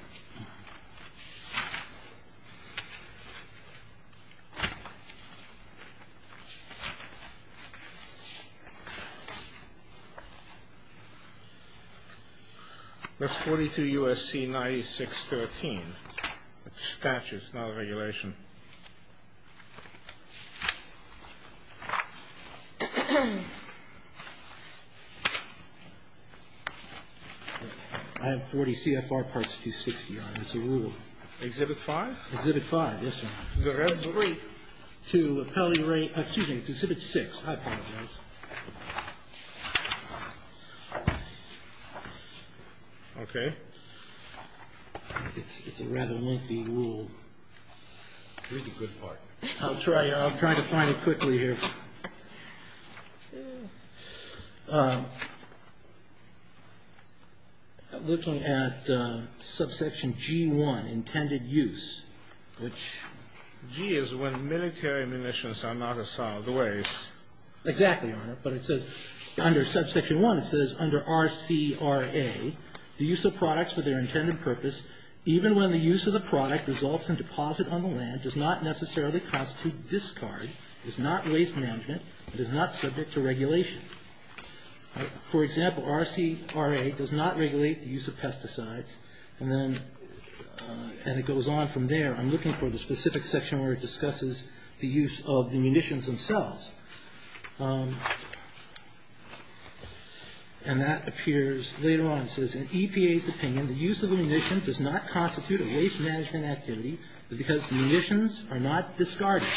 That's 42 U.S.C. 9613. It's statutes, not regulation. I have 40 CFR Parts 260, Your Honor. It's a rule. Exhibit 5? Exhibit 5, yes, sir. The rest of the brief. To Exhibit 6. I apologize. Okay. It's a rather lengthy rule. Read the good part. I'll try to find it quickly here. Looking at Subsection G1, Intended Use, which— G is when military munitions are not assaulted. Exactly, Your Honor. Under Subsection 1, it says, Under R.C.R.A., the use of products for their intended purpose, even when the use of the product results in deposit on the land, does not necessarily constitute discard, is not waste management, and is not subject to regulation. For example, R.C.R.A. does not regulate the use of pesticides. And then it goes on from there. I'm looking for the specific section where it discusses the use of the munitions themselves. And that appears later on. It says, In EPA's opinion, the use of a munition does not constitute a waste management activity because munitions are not discarded.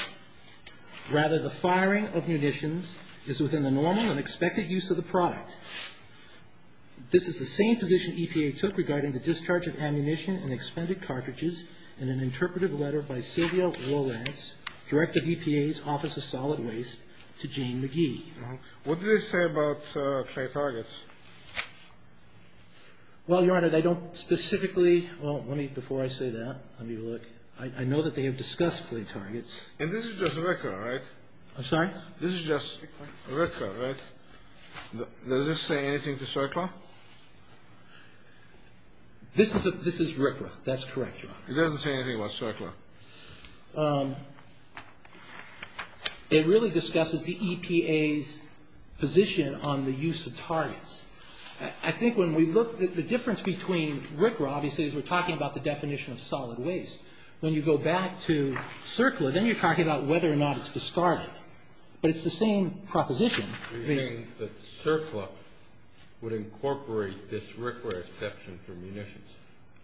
Rather, the firing of munitions is within the normal and expected use of the product. This is the same position EPA took regarding the discharge of ammunition and expended cartridges in an interpretive letter by Sylvia Rolands, director of EPA's Office of Solid Waste, to Jane McGee. What did they say about clay targets? Well, Your Honor, they don't specifically – well, let me – before I say that, let me look. I know that they have discussed clay targets. And this is just R.C.R.A., right? I'm sorry? This is just R.C.R.A., right? Does this say anything to CERCLA? This is R.C.R.A. That's correct, Your Honor. It doesn't say anything about CERCLA. It really discusses the EPA's position on the use of targets. I think when we look – the difference between R.C.R.A., obviously, is we're talking about the definition of solid waste. When you go back to CERCLA, then you're talking about whether or not it's discarded. But it's the same proposition. You're saying that CERCLA would incorporate this R.C.R.A. exception for munitions.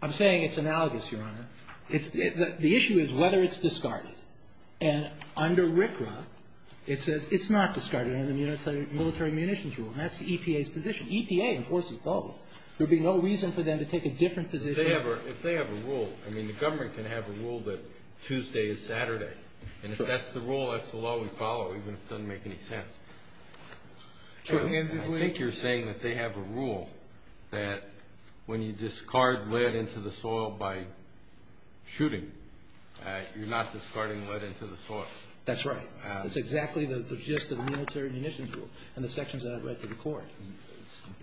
I'm saying it's analogous, Your Honor. The issue is whether it's discarded. And under R.C.R.A., it says it's not discarded under the military munitions rule. And that's the EPA's position. EPA enforces both. There would be no reason for them to take a different position. If they have a rule – I mean, the government can have a rule that Tuesday is Saturday. And if that's the rule, that's the law we follow, even if it doesn't make any sense. True. I think you're saying that they have a rule that when you discard lead into the shooting, you're not discarding lead into the source. That's right. That's exactly the gist of the military munitions rule and the sections that I've read to the Court.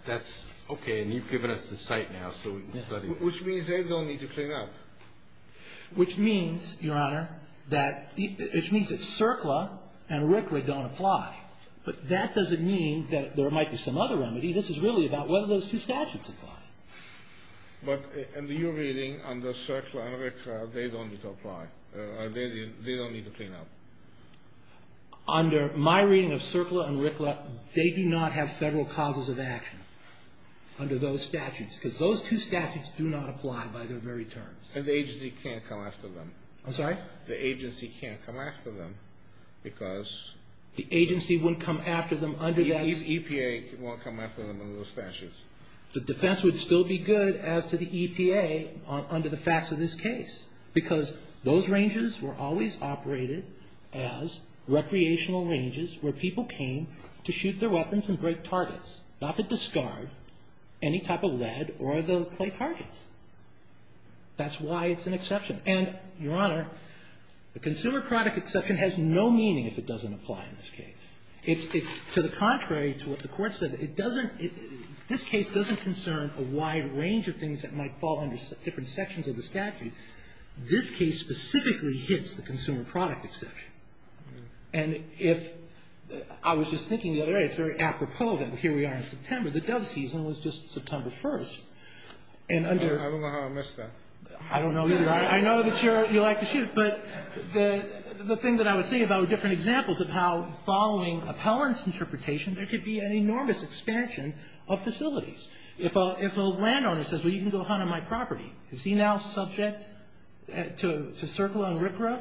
That's okay. And you've given us the cite now, so we can study it. Which means they don't need to clean up. Which means, Your Honor, that the – which means that CERCLA and R.C.R.A. don't apply. But that doesn't mean that there might be some other remedy. This is really about whether those two statutes apply. But in your reading, under CERCLA and R.C.R.A., they don't need to apply. They don't need to clean up. Under my reading of CERCLA and R.C.R.A., they do not have federal causes of action under those statutes, because those two statutes do not apply by their very terms. And the agency can't come after them. I'm sorry? The agency can't come after them because – The agency wouldn't come after them under that – EPA won't come after them under those statutes. The defense would still be good as to the EPA under the facts of this case, because those ranges were always operated as recreational ranges where people came to shoot their weapons and break targets, not to discard any type of lead or the clay targets. That's why it's an exception. And, Your Honor, the consumer product exception has no meaning if it doesn't apply in this case. It's to the contrary to what the Court said. It doesn't – this case doesn't concern a wide range of things that might fall under different sections of the statute. This case specifically hits the consumer product exception. And if – I was just thinking the other day, it's very apropos that here we are in September. The Dove season was just September 1st. And under – I don't know how I missed that. I don't know either. I know that you like to shoot, but the thing that I was saying about different examples of how following appellant's interpretation, there could be an enormous expansion of facilities. If a landowner says, well, you can go hunt on my property, is he now subject to circling RCRA?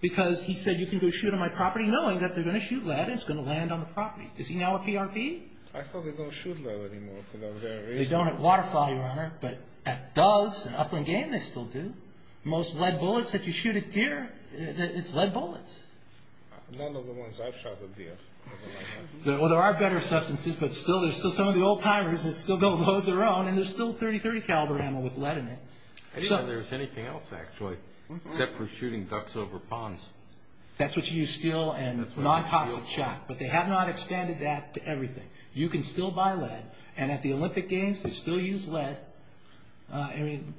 Because he said, you can go shoot on my property, knowing that they're going to shoot lead and it's going to land on the property. Is he now a PRP? I thought they don't shoot lead anymore. They don't at Waterfly, Your Honor, but at Doves and Upland Game, they still do. Most lead bullets that you shoot at deer, it's lead bullets. None of the ones I've shot at deer. Well, there are better substances, but still, there's still some of the old-timers that still don't load their own, and there's still .30-30 caliber ammo with lead in it. I didn't know there was anything else, actually, except for shooting ducks over ponds. That's what you use steel and non-toxic shot, but they have not expanded that to everything. You can still buy lead, and at the Olympic Games, they still use lead. I mean,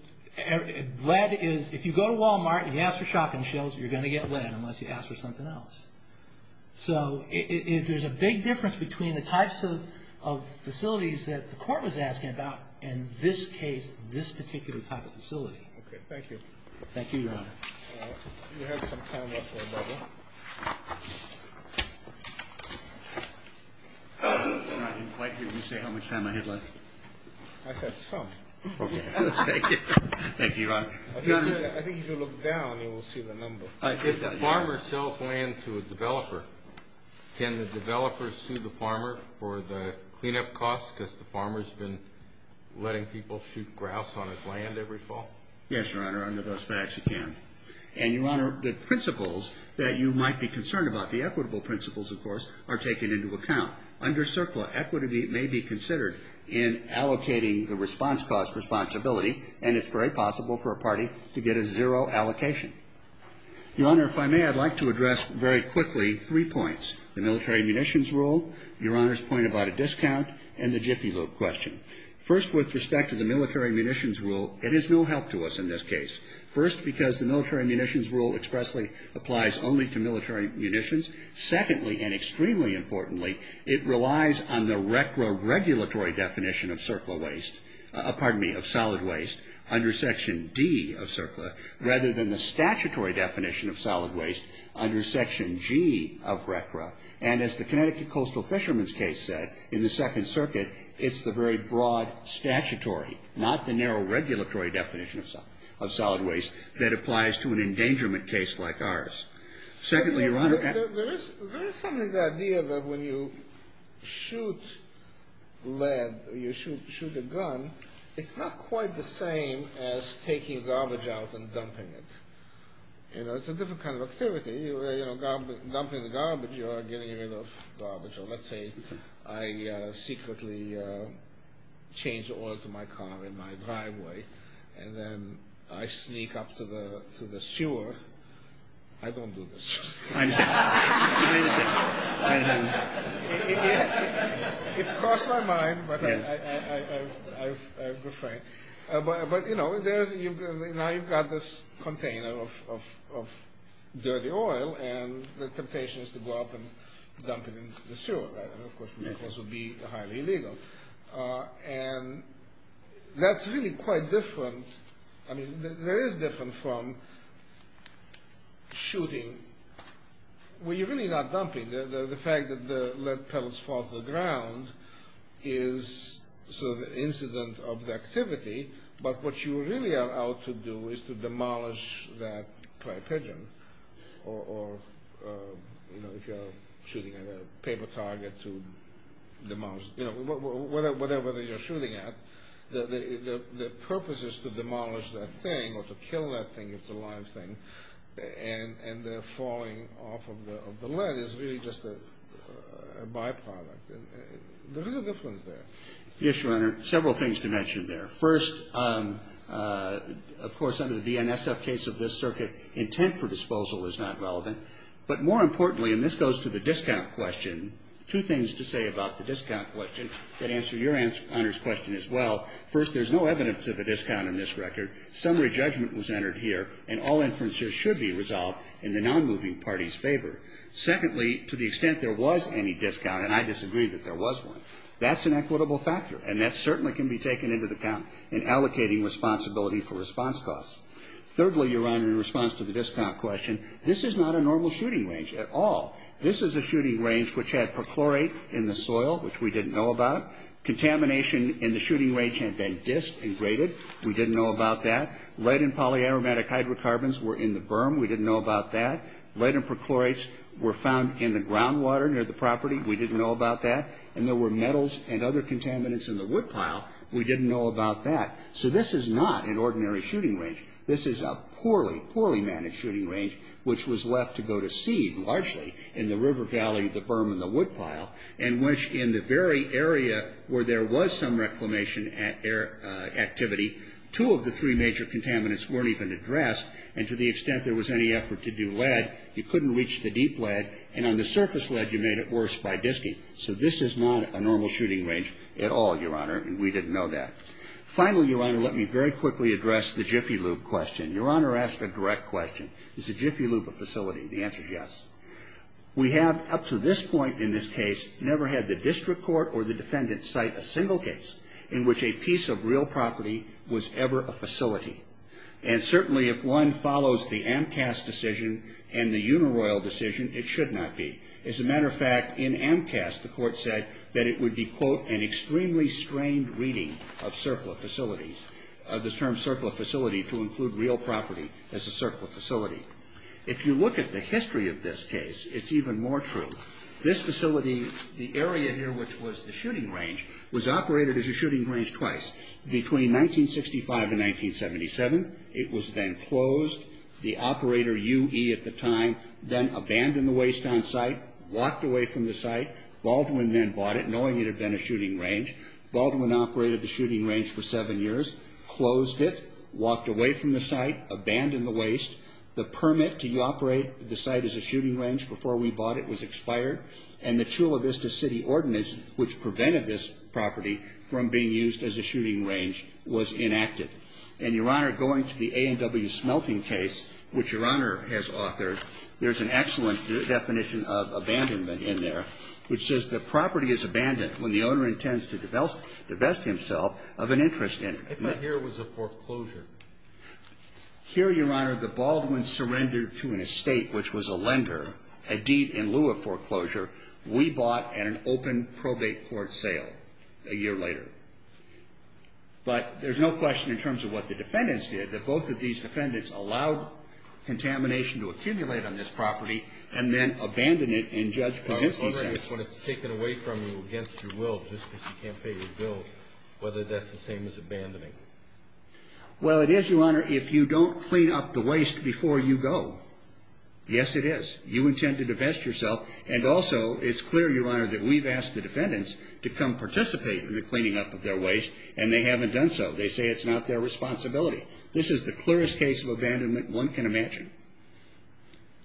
lead is – if you go to Walmart and you ask for shotgun shells, you're going to get lead unless you ask for something else. So there's a big difference between the types of facilities that the court was asking about and this case, this particular type of facility. Okay. Thank you. Thank you, Your Honor. You have some time left for another. I didn't quite hear you say how much time I had left. I said some. Okay. Thank you. Thank you, Your Honor. I think you should look down and you will see the number. If the farmer sells land to a developer, can the developer sue the farmer for the cleanup costs because the farmer's been letting people shoot grouse on his land every fall? Yes, Your Honor. Under those facts, he can. And, Your Honor, the principles that you might be concerned about, the equitable principles, of course, are taken into account. Under CERCLA, equity may be considered in allocating the response cost responsibility and it's very possible for a party to get a zero allocation. Your Honor, if I may, I'd like to address very quickly three points. The military munitions rule, Your Honor's point about a discount, and the Jiffy Loop question. First, with respect to the military munitions rule, it is no help to us in this case. First, because the military munitions rule expressly applies only to military munitions. Secondly, and extremely importantly, it relies on the retro-regulatory definition of CERCLA waste, pardon me, of solid waste under Section D of CERCLA rather than the statutory definition of solid waste under Section G of RECRA. And as the Connecticut Coastal Fishermen's case said, in the Second Circuit, it's the very broad statutory, not the narrow regulatory definition of solid waste, that applies to an endangerment case like ours. Secondly, Your Honor... There is something, the idea that when you shoot lead, you shoot a gun, it's not quite the same as taking garbage out and dumping it. You know, it's a different kind of activity. You know, dumping the garbage or getting rid of garbage, or let's say I secretly change oil to my car in my driveway and then I sneak up to the sewer. I don't do this. It's crossed my mind, but I refrain. But, you know, now you've got this container of dirty oil and the temptation is to go up and dump it into the sewer, right? And of course, would be highly illegal. And that's really quite different. I mean, that is different from shooting, where you're really not dumping. The fact that the lead pellets fall to the ground is sort of an incident of the activity, but what you really are out to do is to demolish that clay pigeon. Or, you know, if you're shooting at a paper target to demolish, you know, whatever you're shooting at, the purpose is to demolish that thing or to kill that thing if it's a live thing. And the falling off of the lead is really just a byproduct. There is a difference there. Yes, Your Honor. Several things to mention there. First, of course, under the BNSF case of this circuit, intent for disposal is not relevant. But more importantly, and this goes to the discount question, two things to say about the discount question that answer Your Honor's question as well. First, there's no evidence of a discount in this record. Summary judgment was entered here, and all inferences should be resolved in the nonmoving party's favor. Secondly, to the extent there was any discount, and I disagree that there was one, that's an equitable factor, and that certainly can be taken into account in allocating responsibility for response costs. Thirdly, Your Honor, in response to the discount question, this is not a normal shooting range at all. This is a shooting range which had perchlorate in the soil, which we didn't know about. Contamination in the shooting range had been disc and graded. We didn't know about that. Lead and polyaromatic hydrocarbons were in the berm. We didn't know about that. Lead and perchlorates were found in the groundwater near the property. We didn't know about that. And there were metals and other contaminants in the woodpile. We didn't know about that. So this is not an ordinary shooting range. This is a poorly, poorly managed shooting range, which was left to go to seed, largely, in the river valley, the berm, and the woodpile, in which in the very area where there was some reclamation activity, two of the three major contaminants weren't even addressed. And to the extent there was any effort to do lead, you couldn't reach the deep lead. And on the surface lead, you made it worse by disking. So this is not a normal shooting range at all, Your Honor, and we didn't know that. Finally, Your Honor, let me very quickly address the Jiffy Lube question. Your Honor asked a direct question. Is the Jiffy Lube a facility? The answer is yes. We have, up to this point in this case, never had the district court or the defendant cite a single case in which a piece of real property was ever a facility. And certainly, if one follows the AMCAS decision and the Unaroyal decision, it should not be. As a matter of fact, in AMCAS, the court said that it would be, quote, an extremely strained reading of circler facilities, the term circler facility to include real property as a circler facility. If you look at the history of this case, it's even more true. This facility, the area here which was the shooting range, was operated as a shooting range twice, between 1965 and 1977. It was then closed. The operator, U.E. at the time, then abandoned the waste on site, walked away from the site. Baldwin then bought it, knowing it had been a shooting range. Baldwin operated the shooting range for seven years, closed it, walked away from the site, abandoned the waste. The permit to operate the site as a shooting range before we bought it was expired, and the Chula Vista City Ordinance, which prevented this property from being used as a shooting range, was inactive. And, Your Honor, going to the A&W Smelting case, which Your Honor has authored, there's an excellent definition of abandonment in there, which says the property is abandoned when the owner intends to divest himself of an interest in it. But here it was a foreclosure. Here, Your Honor, the Baldwins surrendered to an estate which was a lender. Indeed, in lieu of foreclosure, we bought at an open probate court sale a year later. But there's no question, in terms of what the defendants did, that both of these defendants allowed contamination to accumulate on this property and then abandoned it in Judge Krasinski's hands. But, Your Honor, when it's taken away from you against your will, just because you can't pay your bills, whether that's the same as abandoning? Well, it is, Your Honor, if you don't clean up the waste before you go. Yes, it is. Now, we've asked the defendants to come participate in the cleaning up of their waste, and they haven't done so. They say it's not their responsibility. This is the clearest case of abandonment one can imagine.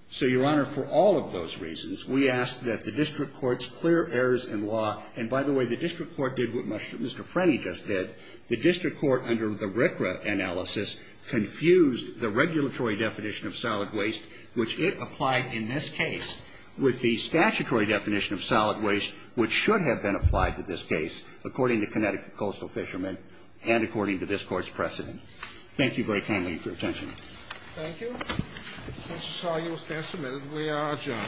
So, Your Honor, for all of those reasons, we ask that the district courts clear errors in law. And, by the way, the district court did what Mr. Franny just did. The district court, under the RCRA analysis, confused the regulatory definition of solid waste, which it applied in this case, with the statutory definition of solid waste, which should have been applied to this case, according to Connecticut Coastal Fishermen and according to this Court's precedent. Thank you very kindly for your attention. Thank you. That's all. You will stand submitted. We are adjourned.